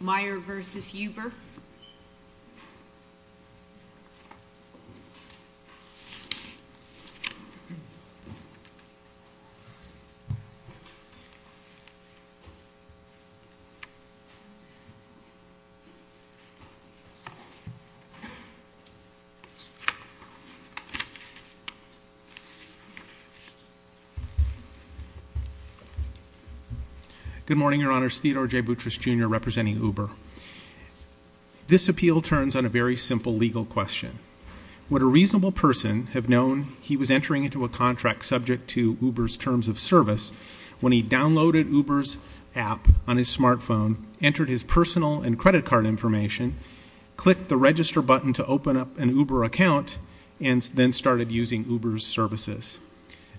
Meyer v. Huber. Good morning, Your Honors. Theodore J. Boutrous, Jr. representing Huber. This appeal turns on a very simple legal question. Would a reasonable person have known he was entering into a contract subject to Huber's terms of service when he downloaded Huber's app on his smartphone, entered his personal and credit card information, clicked the register button to open up an Huber account, and then started using Huber's services?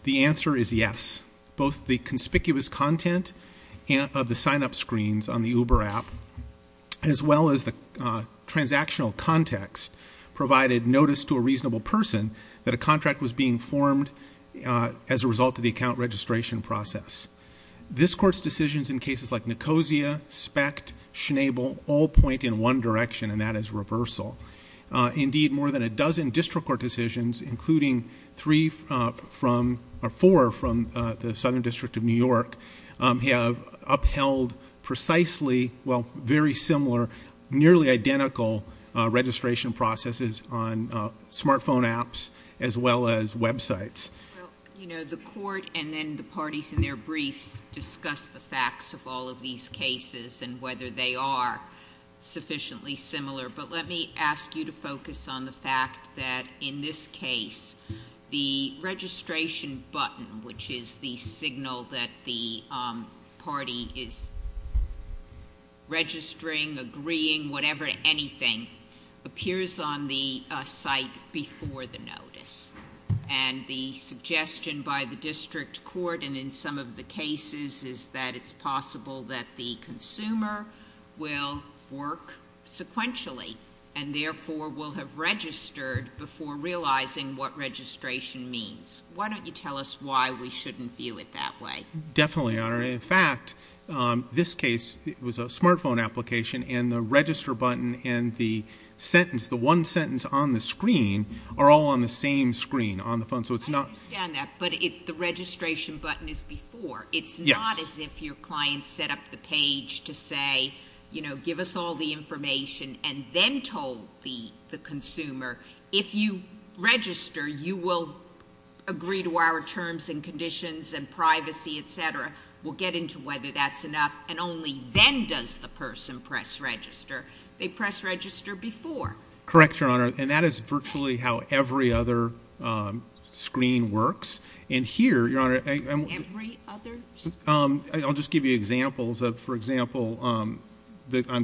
The answer is yes. Both the conspicuous content of the sign-up screens on the Huber app, as well as the transactional context provided notice to a reasonable person that a contract was being formed as a result of the account registration process. This Court's decisions in cases like Nicosia, SPECT, Schnabel, all point in one direction, and that is reversal. Indeed, more than a dozen district court decisions, including four from the Southern District of New York, have upheld precisely, well, very similar, nearly identical registration processes on smartphone apps as well as websites. Well, you know, the Court and then the parties in their briefs discuss the facts of all of these cases and whether they are sufficiently similar, but let me ask you to focus on the fact that, in this case, the registration button, which is the signal that the party is registering, agreeing, whatever, anything, appears on the site before the notice, and the suggestion by the district court and in some of the cases is that it's possible that the consumer will work sequentially and therefore will have registered before realizing what registration means. Why don't you tell us why we shouldn't view it that way? Definitely, Your Honor. In fact, this case, it was a smartphone application, and the register button and the sentence, the one sentence on the screen, are all on the same screen on the phone, so it's not... I understand that, but the registration button is before. Yes. It's not as if your client set up the page to say, you know, give us all the information and then told the consumer, if you register, you will agree to our terms and conditions and privacy, et cetera. We'll get into whether that's enough, and only then does the person press register. They press register before. Correct, Your Honor, and that is virtually how every other screen works, and here, Your Honor... Every other screen? Yes. I'll just give you examples. For example, on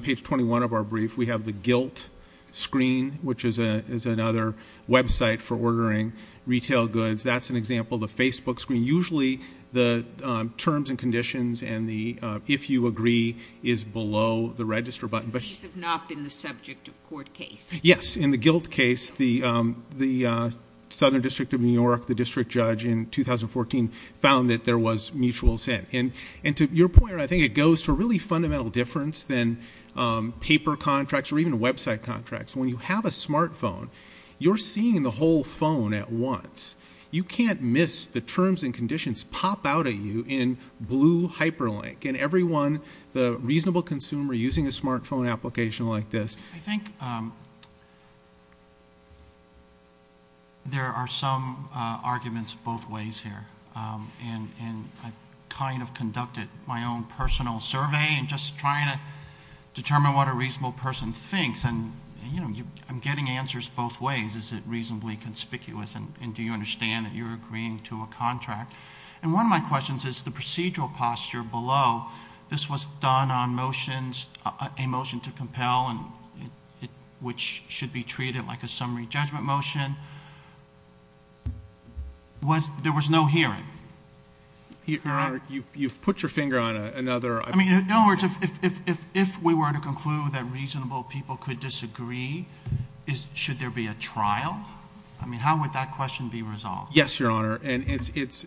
page 21 of our brief, we have the guilt screen, which is another website for ordering retail goods. That's an example. The Facebook screen, usually the terms and conditions and the if you agree is below the register button. These have not been the subject of court case? Yes. In the guilt case, the Southern District of New York, the district judge in 2014 found that there was mutual sin, and to your point, I think it goes to a really fundamental difference than paper contracts or even website contracts. When you have a smartphone, you're seeing the whole phone at once. You can't miss the terms and conditions pop out at you in blue hyperlink, and everyone, the reasonable consumer using a smartphone application like this... I kind of conducted my own personal survey in just trying to determine what a reasonable person thinks, and I'm getting answers both ways. Is it reasonably conspicuous, and do you understand that you're agreeing to a contract? One of my questions is the procedural posture below. This was done on motions, a motion to compel, which should be treated like a trial. Your Honor, you've put your finger on another... I mean, in other words, if we were to conclude that reasonable people could disagree, should there be a trial? I mean, how would that question be resolved? Yes, Your Honor, and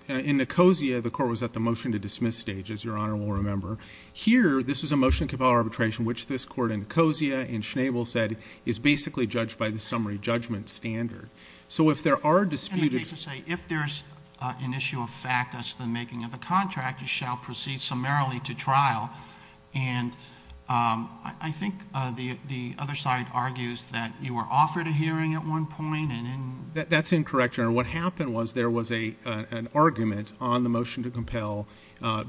in Nicosia, the court was at the motion to dismiss stage, as Your Honor will remember. Here, this is a motion to compel arbitration, which this court in Nicosia and Schnabel said is basically judged by the summary judgment standard. So if there are disputed... of the contract, you shall proceed summarily to trial, and I think the other side argues that you were offered a hearing at one point, and... That's incorrect, Your Honor. What happened was there was an argument on the motion to compel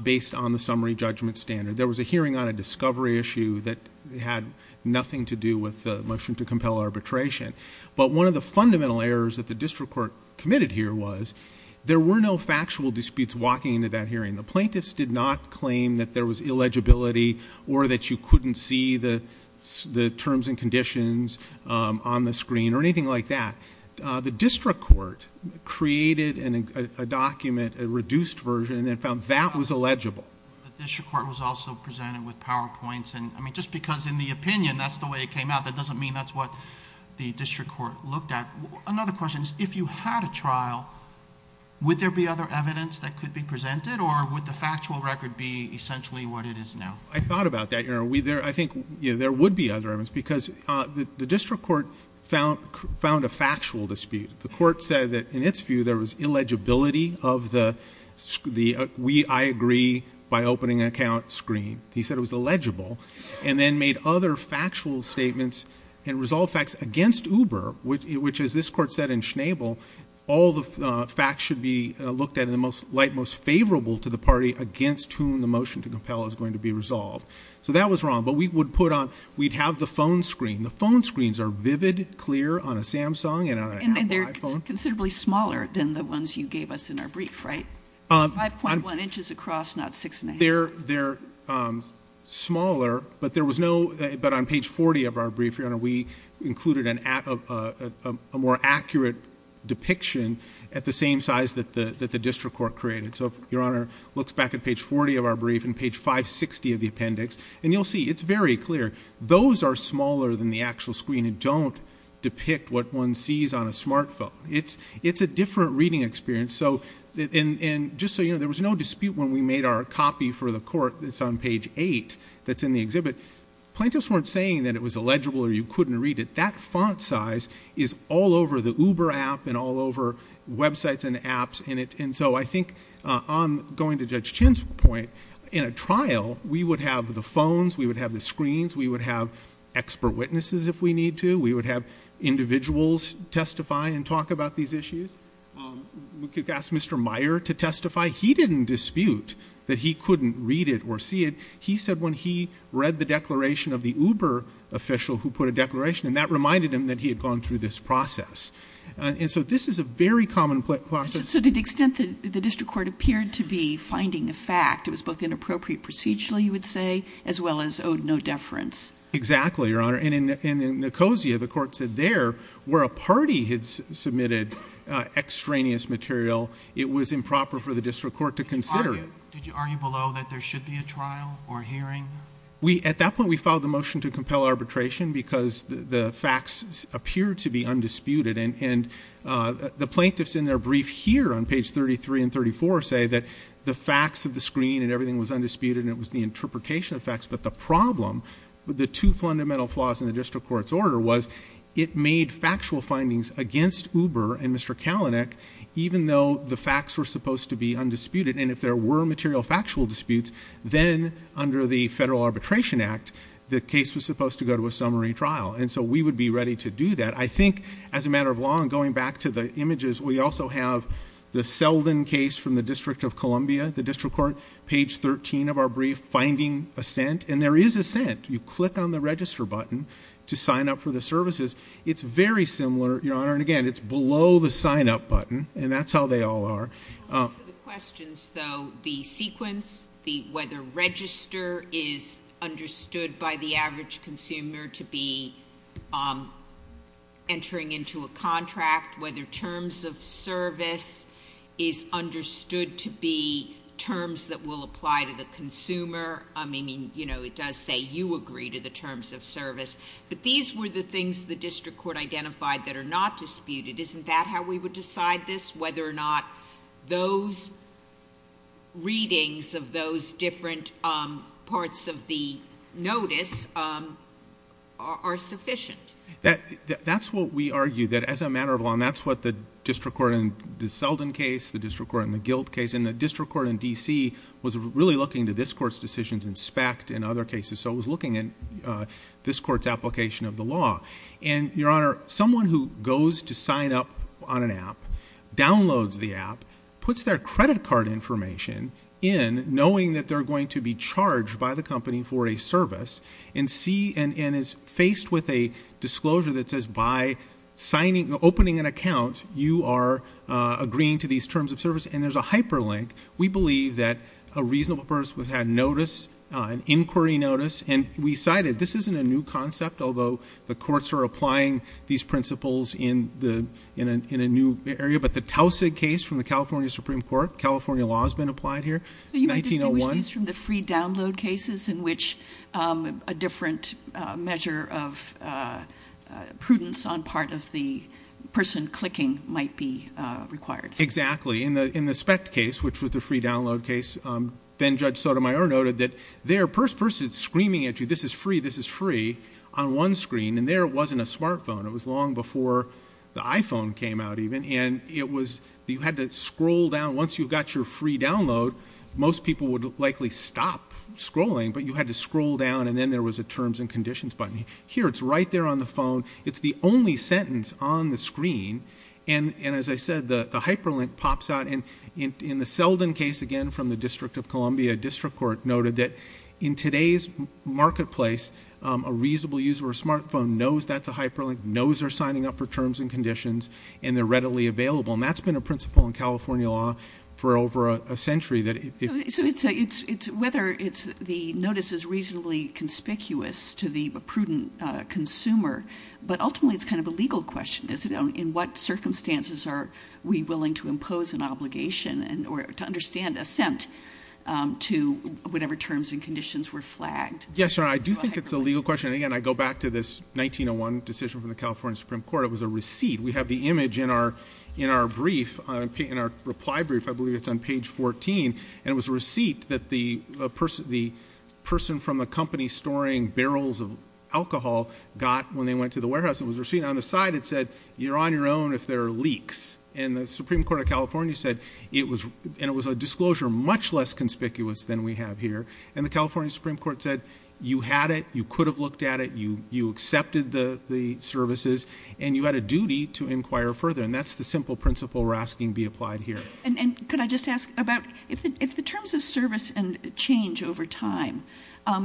based on the summary judgment standard. There was a hearing on a discovery issue that had nothing to do with the motion to compel arbitration, but one of the fundamental errors that the district court committed here was there were no factual disputes walking into that hearing. The plaintiffs did not claim that there was illegibility or that you couldn't see the terms and conditions on the screen or anything like that. The district court created a document, a reduced version, and then found that was illegible. The district court was also presented with PowerPoints, and I mean, just because in the opinion that's the way it came out, that doesn't mean that's what the district court looked at. Another question is, if you had a trial, would there be other evidence that could be presented or would the factual record be essentially what it is now? I thought about that, Your Honor. I think there would be other evidence because the district court found a factual dispute. The court said that in its view there was illegibility of the we, I agree by opening account screen. He said it was illegible, and then made other which, as this court said in Schnabel, all the facts should be looked at in the light most favorable to the party against whom the motion to compel is going to be resolved. So that was wrong, but we would put on, we'd have the phone screen. The phone screens are vivid, clear on a Samsung and on an iPhone. And they're considerably smaller than the ones you gave us in our brief, right? 5.1 inches across, not 6 1⁄2. They're smaller, but there was no, but on page 40 of our brief, Your Honor, we included a more accurate depiction at the same size that the district court created. So if Your Honor looks back at page 40 of our brief and page 560 of the appendix, and you'll see, it's very clear. Those are smaller than the actual screen and don't depict what one sees on a smartphone. It's a different reading experience. So, and just so you know, there was no dispute when we made our copy for the court that's on page eight that's in the exhibit. Plaintiffs weren't saying that it was illegible or you couldn't read it. That font size is all over the Uber app and all over websites and apps in it. And so I think on going to Judge Chin's point, in a trial, we would have the phones, we would have the screens, we would have expert witnesses if we need to, we would have individuals testify and talk about these issues. We could ask Mr. Meyer to testify. He didn't dispute that he couldn't read it or see it. He said when he read the declaration of the Uber official who put a declaration and that reminded him that he had gone through this process. And so this is a very common process. So to the extent that the district court appeared to be finding the fact, it was both inappropriate procedurally you would say, as well as owed no deference. Exactly, Your Honor. And in Nicosia, the court said there, where a party had submitted extraneous material, it was improper for the district court to consider it. Did you argue below that there should be a trial or hearing? At that point we filed a motion to compel arbitration because the facts appeared to be undisputed. And the plaintiffs in their brief here on page 33 and 34 say that the facts of the screen and everything was undisputed and it was the interpretation of the facts. But the problem with the two fundamental flaws in the district court's order was it made factual findings against Uber and Mr. Kalanick even though the facts were supposed to be undisputed. And if there were material factual disputes, then under the Federal Arbitration Act the case was supposed to go to a summary trial. And so we would be ready to do that. I think as a matter of law, and going back to the images, we also have the Selden case from the District of Columbia. The district court, page 13 of our brief, finding assent. And there is assent. You click on the register button to sign up for the services. It's very similar, Your Honor. And again, it's below the sign up button. And that's how they all are. For the questions, though, the sequence, whether register is understood by the average consumer to be entering into a contract, whether terms of service is understood to be terms that will apply to the consumer. I mean, you know, it does say you agree to the terms of service. But these were the things the district court identified that are not disputed. Isn't that how we would decide this, whether or not those readings of those different parts of the notice are sufficient? That's what we argue, that as a matter of law, and that's what the district court in the Selden case, the district court in the Gilt case, and the district court in D.C. was really looking to this court's decisions in spec in other cases. So it was looking at this court's application of the law. And, Your Honor, someone who goes to sign up on an app, downloads the app, puts their credit card information in, knowing that they're going to be charged by the company for a service, and see, and is faced with a disclosure that says, by signing, opening an account, you are agreeing to these terms of service, and there's a hyperlink. We believe that a reasonable person had notice, an inquiry notice, and we cited, this isn't a new concept, although the courts are applying these principles in the, in a new area, but the Taussig case from the California Supreme Court, California law has been applied here, 1901. These are from the free download cases, in which a different measure of prudence on part of the person clicking might be required. Exactly. In the spec case, which was the free download case, then Judge Sotomayor noted that there, first it's screaming at you, this is free, this is free, on one screen, and there wasn't a smartphone. It was long before the iPhone came out, even, and it was, you had to scroll down, once you got your free download, most people would likely stop scrolling, but you had to scroll down, and then there was a terms and conditions button. Here, it's right there on the phone. It's the only sentence on the screen, and as I said, the hyperlink pops out, and in the Selden case, again, from the District of Columbia, District Court noted that in today's marketplace, a reasonable user with a smartphone knows that's a hyperlink, knows they're signing up for terms and conditions, and they're readily available, and that's been a principle in California law for over a century. So, it's whether the notice is reasonably conspicuous to the prudent consumer, but ultimately, it's kind of a legal question, is it? In what circumstances are we willing to impose an obligation or to understand assent to whatever terms and conditions were flagged? Yes, Your Honor, I do think it's a legal question, and again, I go back to this 1901 decision from the California Supreme Court. It was a receipt. We have the image in our reply brief. I believe it's on page 14, and it was a receipt that the person from the company storing barrels of alcohol got when they went to the warehouse. It was a receipt on the side. It said, you're on your own if there are leaks, and the Supreme Court of California said it was a disclosure much less conspicuous than we have here, and the California Supreme Court said, you had it, you could have looked at it, you accepted the services, and you had a duty to inquire further, and that's the simple principle we're asking be applied here. And could I just ask about, if the terms of service change over time, are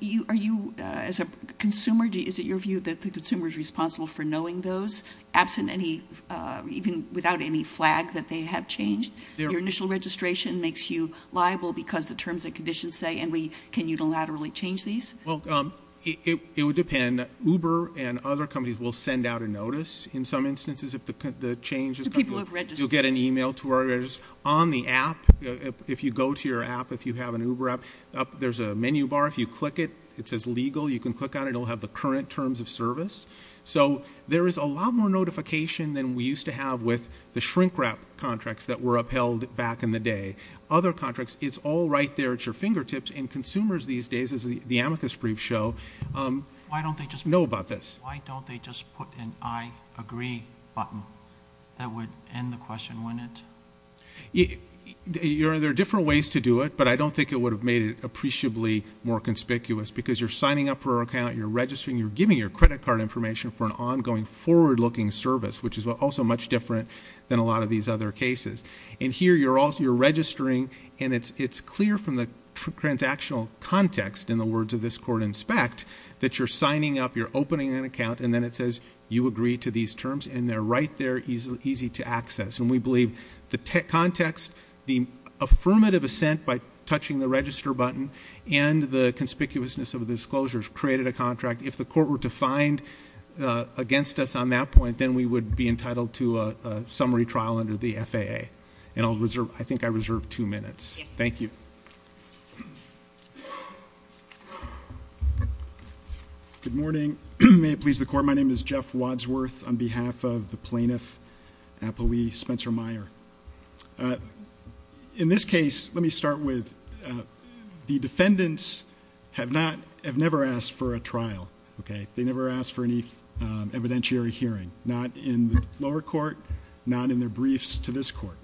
you, as a consumer, is it your view that the consumer is responsible for knowing those, absent any, even without any flag that they have changed? Your initial registration makes you liable because the consumer can't really change these? Well, it would depend. Uber and other companies will send out a notice in some instances if the change is, you'll get an email to where it is on the app. If you go to your app, if you have an Uber app, there's a menu bar. If you click it, it says legal. You can click on it. It'll have the current terms of service. So there is a lot more notification than we used to have with the shrink wrap contracts that were upheld back in the day. Other contracts, it's all right there at your fingertips, and consumers these days, as the amicus briefs show, know about this. Why don't they just put an I agree button that would end the question, wouldn't it? There are different ways to do it, but I don't think it would have made it appreciably more conspicuous because you're signing up for an account, you're registering, you're giving your credit card information for an ongoing forward-looking service, which is also much different than a lot of these other cases. And here you're registering, and it's clear from the transactional context, in the words of this court inspect, that you're signing up, you're opening an account, and then it says you agree to these terms, and they're right there, easy to access. And we believe the context, the affirmative assent by touching the register button, and the conspicuousness of the disclosures created a contract. If the court were to find against us on that point, then we would be entitled to a summary trial under the FAA. And I'll reserve, I think I reserve two minutes. Thank you. Good morning. May it please the court, my name is Jeff Wadsworth, on behalf of the plaintiff, Applee Spencer-Meyer. In this case, let me start with the defendants have never asked for a trial. They never asked for any evidentiary hearing, not in the lower court, not in their briefs to this court.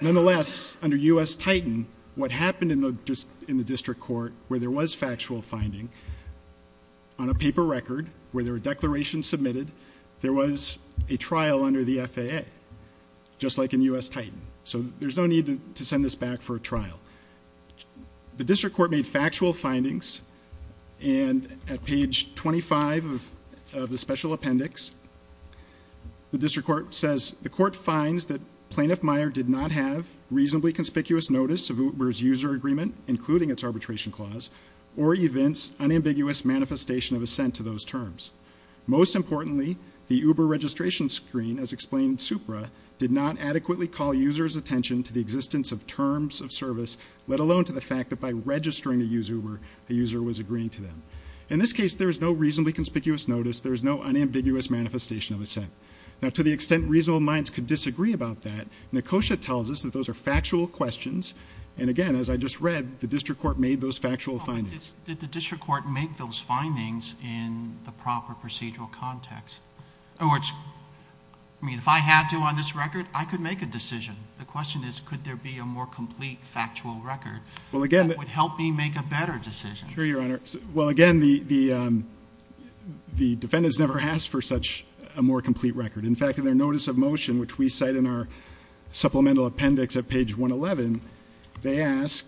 Nonetheless, under U.S. Titan, what happened in the district court where there was factual finding, on a paper record, where there were declarations submitted, there was a trial under the FAA, just like in U.S. Titan. So there's no need to send this back for a trial. The district court made factual findings, and at page 25 of the special appendix, the district court says, the court finds that Plaintiff Meyer did not have reasonably conspicuous notice of Uber's user agreement, including its arbitration clause, or events, unambiguous manifestation of assent to those terms. Most importantly, the Uber registration screen, as explained in SUPRA, did not adequately call users' attention to the existence of terms of service, let alone to the fact that by registering a user Uber, a user was agreeing to them. In this case, there is no reasonably conspicuous notice. There is no unambiguous manifestation of assent. Now, to the extent reasonable minds could disagree about that, Nekosha tells us that those are factual questions, and again, as I just read, the district court made those factual findings. Did the district court make those findings in the proper procedural context? I mean, could there be a more complete factual record that would help me make a better decision? Well, again, the defendants never asked for such a more complete record. In fact, in their notice of motion, which we cite in our supplemental appendix at page 111, they ask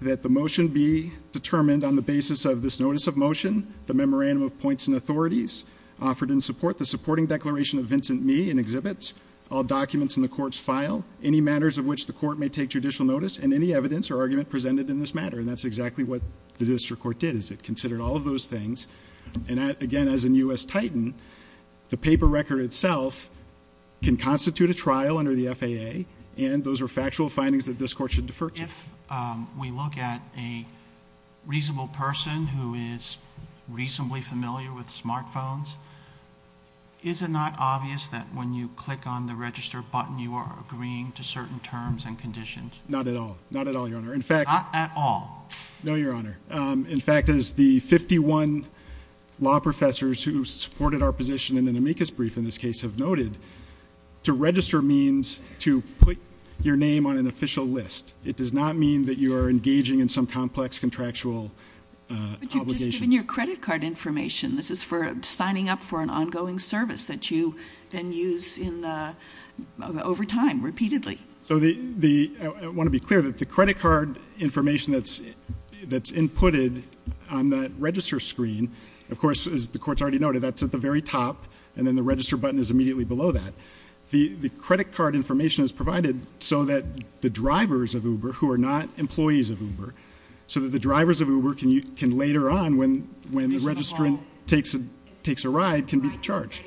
that the motion be determined on the basis of this notice of motion, the memorandum of points and authorities offered in support, the supporting declaration of Vincent Mee in exhibits, all documents in the court's file, any matters of which the court may take judicial notice, and any evidence or argument presented in this matter. And that's exactly what the district court did, is it considered all of those things. And again, as in U.S. Titan, the paper record itself can constitute a trial under the FAA, and those are factual findings that this court should defer to. If we look at a reasonable person who is reasonably familiar with smartphones, is it not obvious that when you click on the register button, you are agreeing to certain terms and conditions? Not at all. Not at all, Your Honor. In fact, as the 51 law professors who supported our position in an amicus brief in this case have noted, to register means to put your name on an official list. It does not mean that you are engaging in some complex contractual obligations. But you've just given your credit card information. This is for signing up for an ongoing service that you then use over time, repeatedly. So I want to be clear that the credit card information that's inputted on that register screen, of course, as the court's already noted, that's at the very top, and then the register button is immediately below that. The credit card information is provided so that the drivers of Uber, who are not employees of Uber, so that the drivers of Uber can later on, when the registrant takes a ride, can be charged.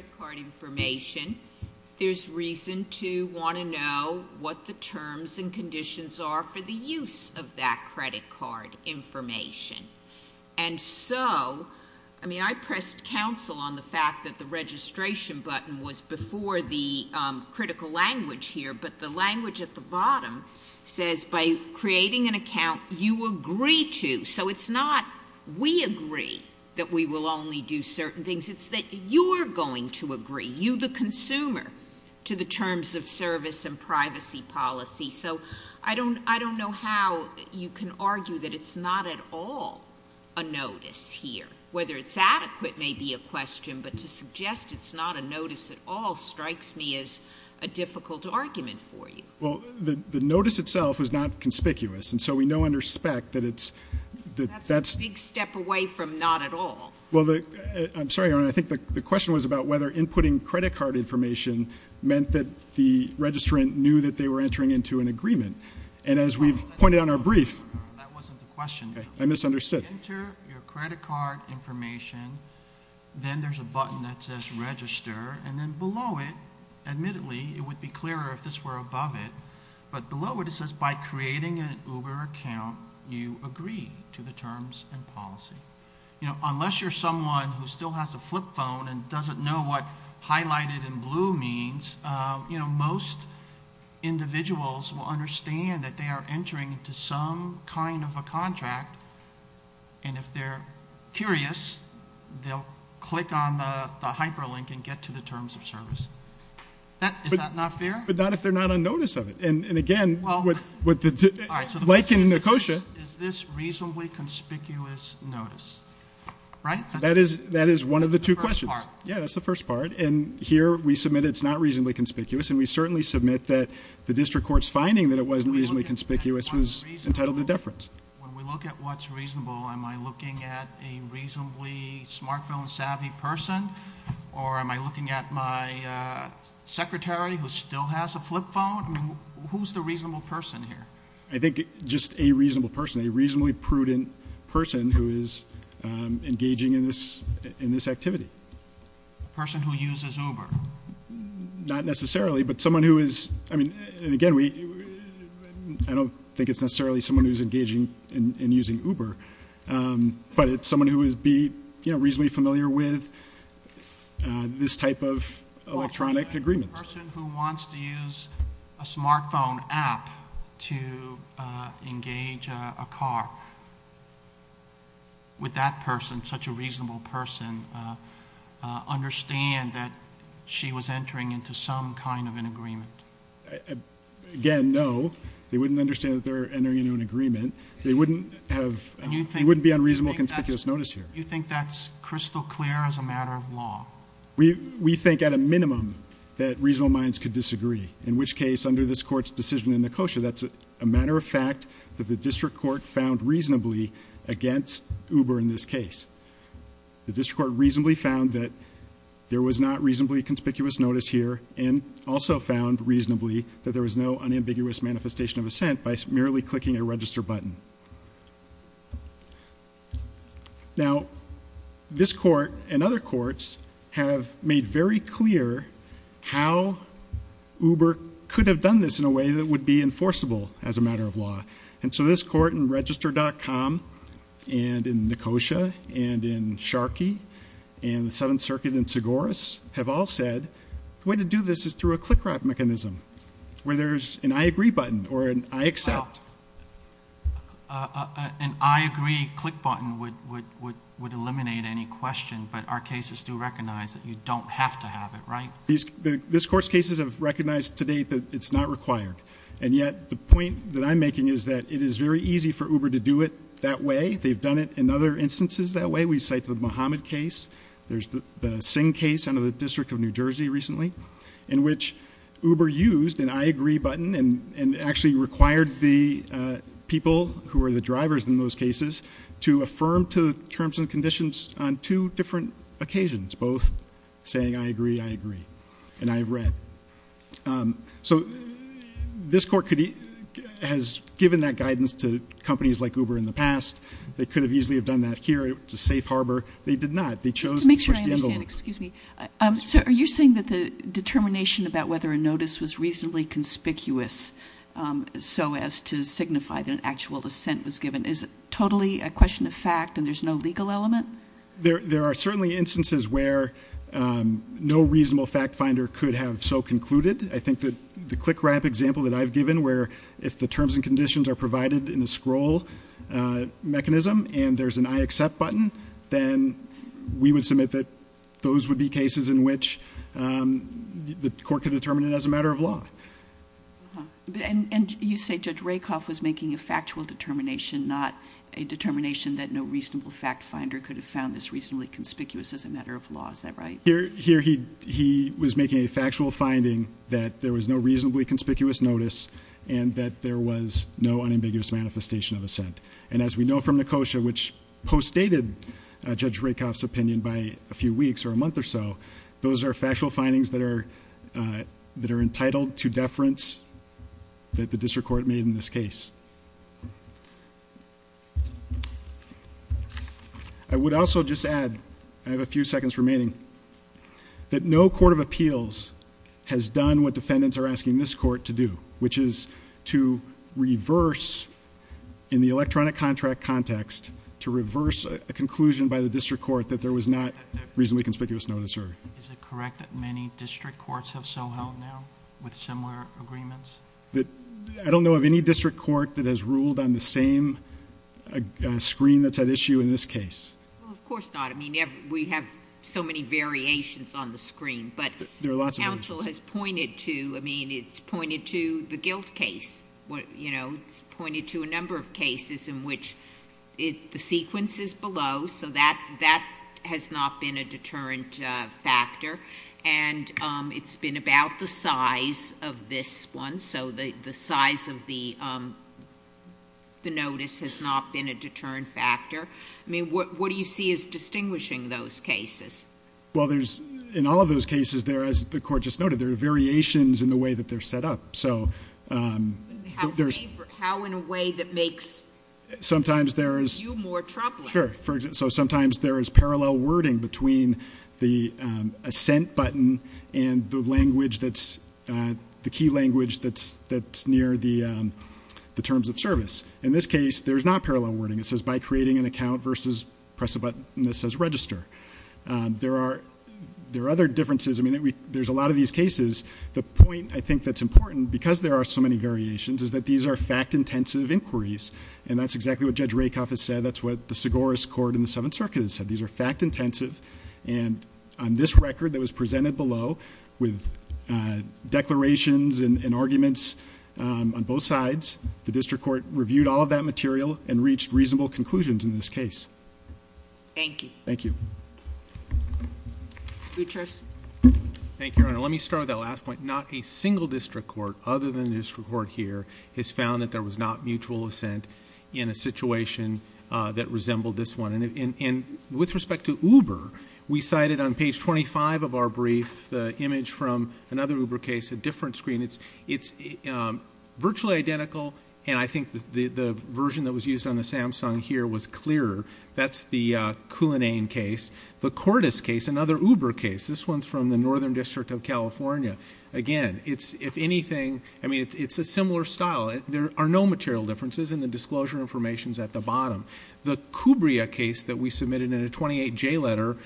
There's reason to want to know what the terms and conditions are for the use of that credit card information. And so, I mean, I pressed counsel on the fact that the registration button was before the critical language here, but the language at the bottom says, by creating an account, you agree to. So it's not, we agree that we will only do certain things. It's that you're going to agree, you the consumer, to the terms of service and privacy policy. So I don't know how you can argue that it's not at all a notice here. Whether it's adequate may be a question, but to suggest it's not a notice at all strikes me as a difficult argument for you. Well, the notice itself was not conspicuous, and so we know under spec that it's, that's That's a big step away from not at all. Well, I'm sorry, Your Honor, I think the question was about whether inputting credit card information meant that the registrant knew that they were entering into an agreement. And as we've pointed on our brief That wasn't the question. I misunderstood. You enter your credit card information, then there's a button that says register, and then below it, admittedly, it would be clearer if this were above it, but below it, it says, by creating an Uber account, you agree to the terms and policy. You know, unless you're someone who still has a flip phone and doesn't know what highlighted in blue means, you know, individuals will understand that they are entering into some kind of a contract, and if they're curious, they'll click on the hyperlink and get to the terms of service. That, is that not fair? But not if they're not on notice of it. And again, with the, like in the COSHA Is this reasonably conspicuous notice? Right? That is, that is one of the two questions. That's the first part. And here, we submit it's not reasonably conspicuous, and we certainly submit that the district court's finding that it wasn't reasonably conspicuous was entitled to deference. When we look at what's reasonable, am I looking at a reasonably smartphone savvy person, or am I looking at my secretary who still has a flip phone? I mean, who's the reasonable person here? I think just a reasonable person, a reasonably prudent person who is engaging in this activity. A person who uses Uber? Not necessarily, but someone who is, I mean, and again, we, I don't think it's necessarily someone who's engaging in using Uber, but it's someone who would be, you know, reasonably familiar with this type of electronic agreement. A person who wants to use a smartphone app to engage a car. Would that person, such a person, understand that she was entering into some kind of an agreement? Again, no. They wouldn't understand that they're entering into an agreement. They wouldn't have, they wouldn't be on reasonable conspicuous notice here. You think that's crystal clear as a matter of law? We think at a minimum that reasonable minds could disagree. In which case, under this court's decision in the COSHA, that's a matter of fact that the district court found reasonably against Uber in this case. The district court reasonably found that there was not reasonably conspicuous notice here and also found reasonably that there was no unambiguous manifestation of assent by merely clicking a register button. Now this court and other courts have made very clear how Uber could have done this in a way that would be enforceable as a matter of law. And so this court in Register.com and in the COSHA and in Sharkey and the Seventh Circuit and Segoras have all said the way to do this is through a click rat mechanism where there's an I agree button or an I accept. An I agree click button would eliminate any question but our cases do recognize that you don't have to have it, right? This court's cases have recognized to date that it's not required and yet the point that I'm making is that it is very easy for Uber to do it that way. They've done it in other instances that way. We cite the Mohammed case. There's the Singh case under the District of New Jersey recently in which Uber used an I agree button and actually required the people who are the drivers in those cases to affirm to the terms and conditions on two different occasions. Both saying I agree, I agree and I've read. So this court has given that guidance to companies like Uber in the past. They could have easily have done that here, it's a safe harbor. They did not. They chose to push the envelope. Excuse me. So are you saying that the determination about whether a notice was reasonably conspicuous so as to signify that an actual assent was given is totally a question of fact and there's no legal element? There are certainly instances where no reasonable fact finder could have so concluded. I think that the click ramp example that I've given where if the terms and conditions are provided in a scroll mechanism and there's an I accept button, then we would submit that those would be cases in which the court could determine it as a matter of law. And you say Judge Rakoff was making a factual determination, not a determination that no reasonable fact finder could have found this reasonably conspicuous as a matter of law. Is that right? Here he was making a factual finding that there was no reasonably conspicuous notice and that there was no unambiguous manifestation of assent. And as we know from Nicosia, which post-dated Judge Rakoff's opinion by a few weeks or a month or so, those are factual findings that are entitled to deference that the district court made in this case. I would also just add, I have a few seconds remaining, that no court of appeals has done what defendants are asking this court to do, which is to reverse in the electronic contract context to reverse a conclusion by the district court that there was not reasonably conspicuous notice heard. Is it correct that many district courts have so held now with similar agreements? I don't know of any district court that has ruled on the same screen that's at issue in this case. Of course not, I mean we have so many variations on the screen, but- There are lots of variations. Counsel has pointed to, I mean, it's pointed to the guilt case. It's pointed to a number of cases in which the sequence is below, so that has not been a deterrent factor. And it's been about the size of this one, so the size of the notice has not been a deterrent factor. I mean, what do you see as distinguishing those cases? Well, there's, in all of those cases there, as the court just noted, there are variations in the way that they're set up. So, there's- How in a way that makes you more troubling? Sure, so sometimes there is parallel wording between the assent button and the language that's, the key language that's near the terms of service. In this case, there's not parallel wording. It says by creating an account versus press a button that says register. There are other differences. I mean, there's a lot of these cases. The point I think that's important, because there are so many variations, is that these are fact intensive inquiries. And that's exactly what Judge Rakoff has said. That's what the Segoras Court in the Seventh Circuit has said. These are fact intensive. And on this record that was presented below with declarations and reasonable conclusions in this case. Thank you. Thank you. Butchers. Thank you, Your Honor. Let me start with that last point. Not a single district court, other than the district court here, has found that there was not mutual assent in a situation that resembled this one. And with respect to Uber, we cited on page 25 of our brief, the image from another Uber case, a different screen, it's virtually identical. And I think the version that was used on the Samsung here was clearer. That's the Coulinane case. The Cordes case, another Uber case, this one's from the Northern District of California. Again, it's, if anything, I mean, it's a similar style. There are no material differences, and the disclosure information's at the bottom. The Cubria case that we submitted in a 28J letter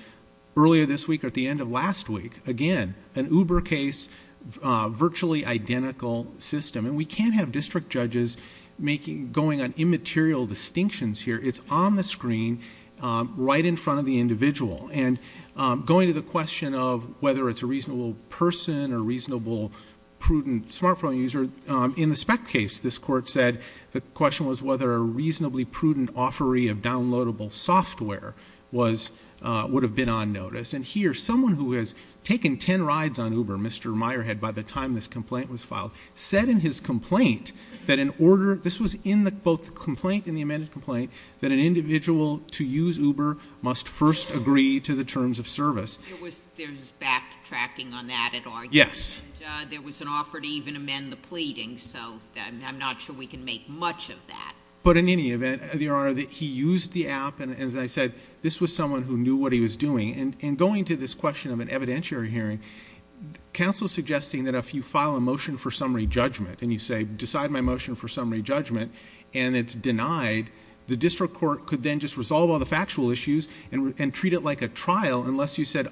earlier this week or at the end of last week. Again, an Uber case, virtually identical system. And we can't have district judges going on immaterial distinctions here. It's on the screen, right in front of the individual. And going to the question of whether it's a reasonable person or reasonable prudent smartphone user, in the spec case, this court said, the question was whether a reasonably prudent offeree of downloadable software would have been on notice. And here, someone who has taken ten rides on Uber, Mr. Meyerhead, by the time this complaint was filed, said in his complaint, that in order, this was in both the complaint and the amended complaint, that an individual to use Uber must first agree to the terms of service. There was backtracking on that, it argued. Yes. And there was an offer to even amend the pleading, so I'm not sure we can make much of that. But in any event, Your Honor, he used the app, and as I said, this was someone who knew what he was doing. And going to this question of an evidentiary hearing, counsel's suggesting that if you file a motion for summary judgment, and you say, decide my motion for summary judgment, and it's denied, the district court could then just resolve all the factual issues and treat it like a trial, unless you said,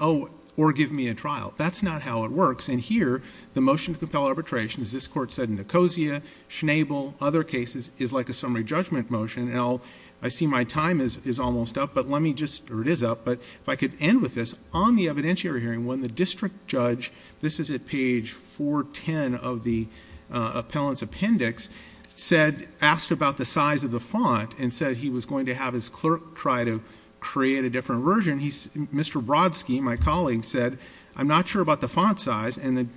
or give me a trial. That's not how it works, and here, the motion to compel arbitration, as this court said in Nicosia, Schnabel, other cases, is like a summary judgment motion, and I see my time is almost up. But let me just, or it is up, but if I could end with this, on the evidentiary hearing, when the district judge, this is at page 410 of the appellant's appendix, said, asked about the size of the font, and said he was going to have his clerk try to create a different version. He, Mr. Brodsky, my colleague, said, I'm not sure about the font size, and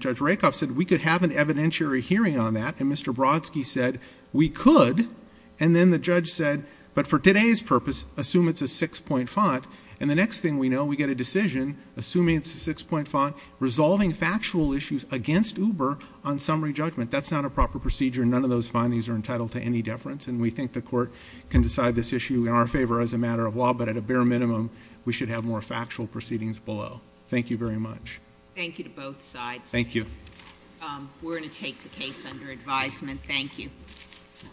Judge Rakoff said, we could have an evidentiary hearing on that, and Mr. Brodsky said, we could. And then the judge said, but for today's purpose, assume it's a six point font. And the next thing we know, we get a decision, assuming it's a six point font, resolving factual issues against Uber on summary judgment. That's not a proper procedure, and none of those findings are entitled to any deference. And we think the court can decide this issue in our favor as a matter of law, but at a bare minimum, we should have more factual proceedings below. Thank you very much. Thank you to both sides. Thank you. We're going to take the case under advisement. Thank you. Thank you.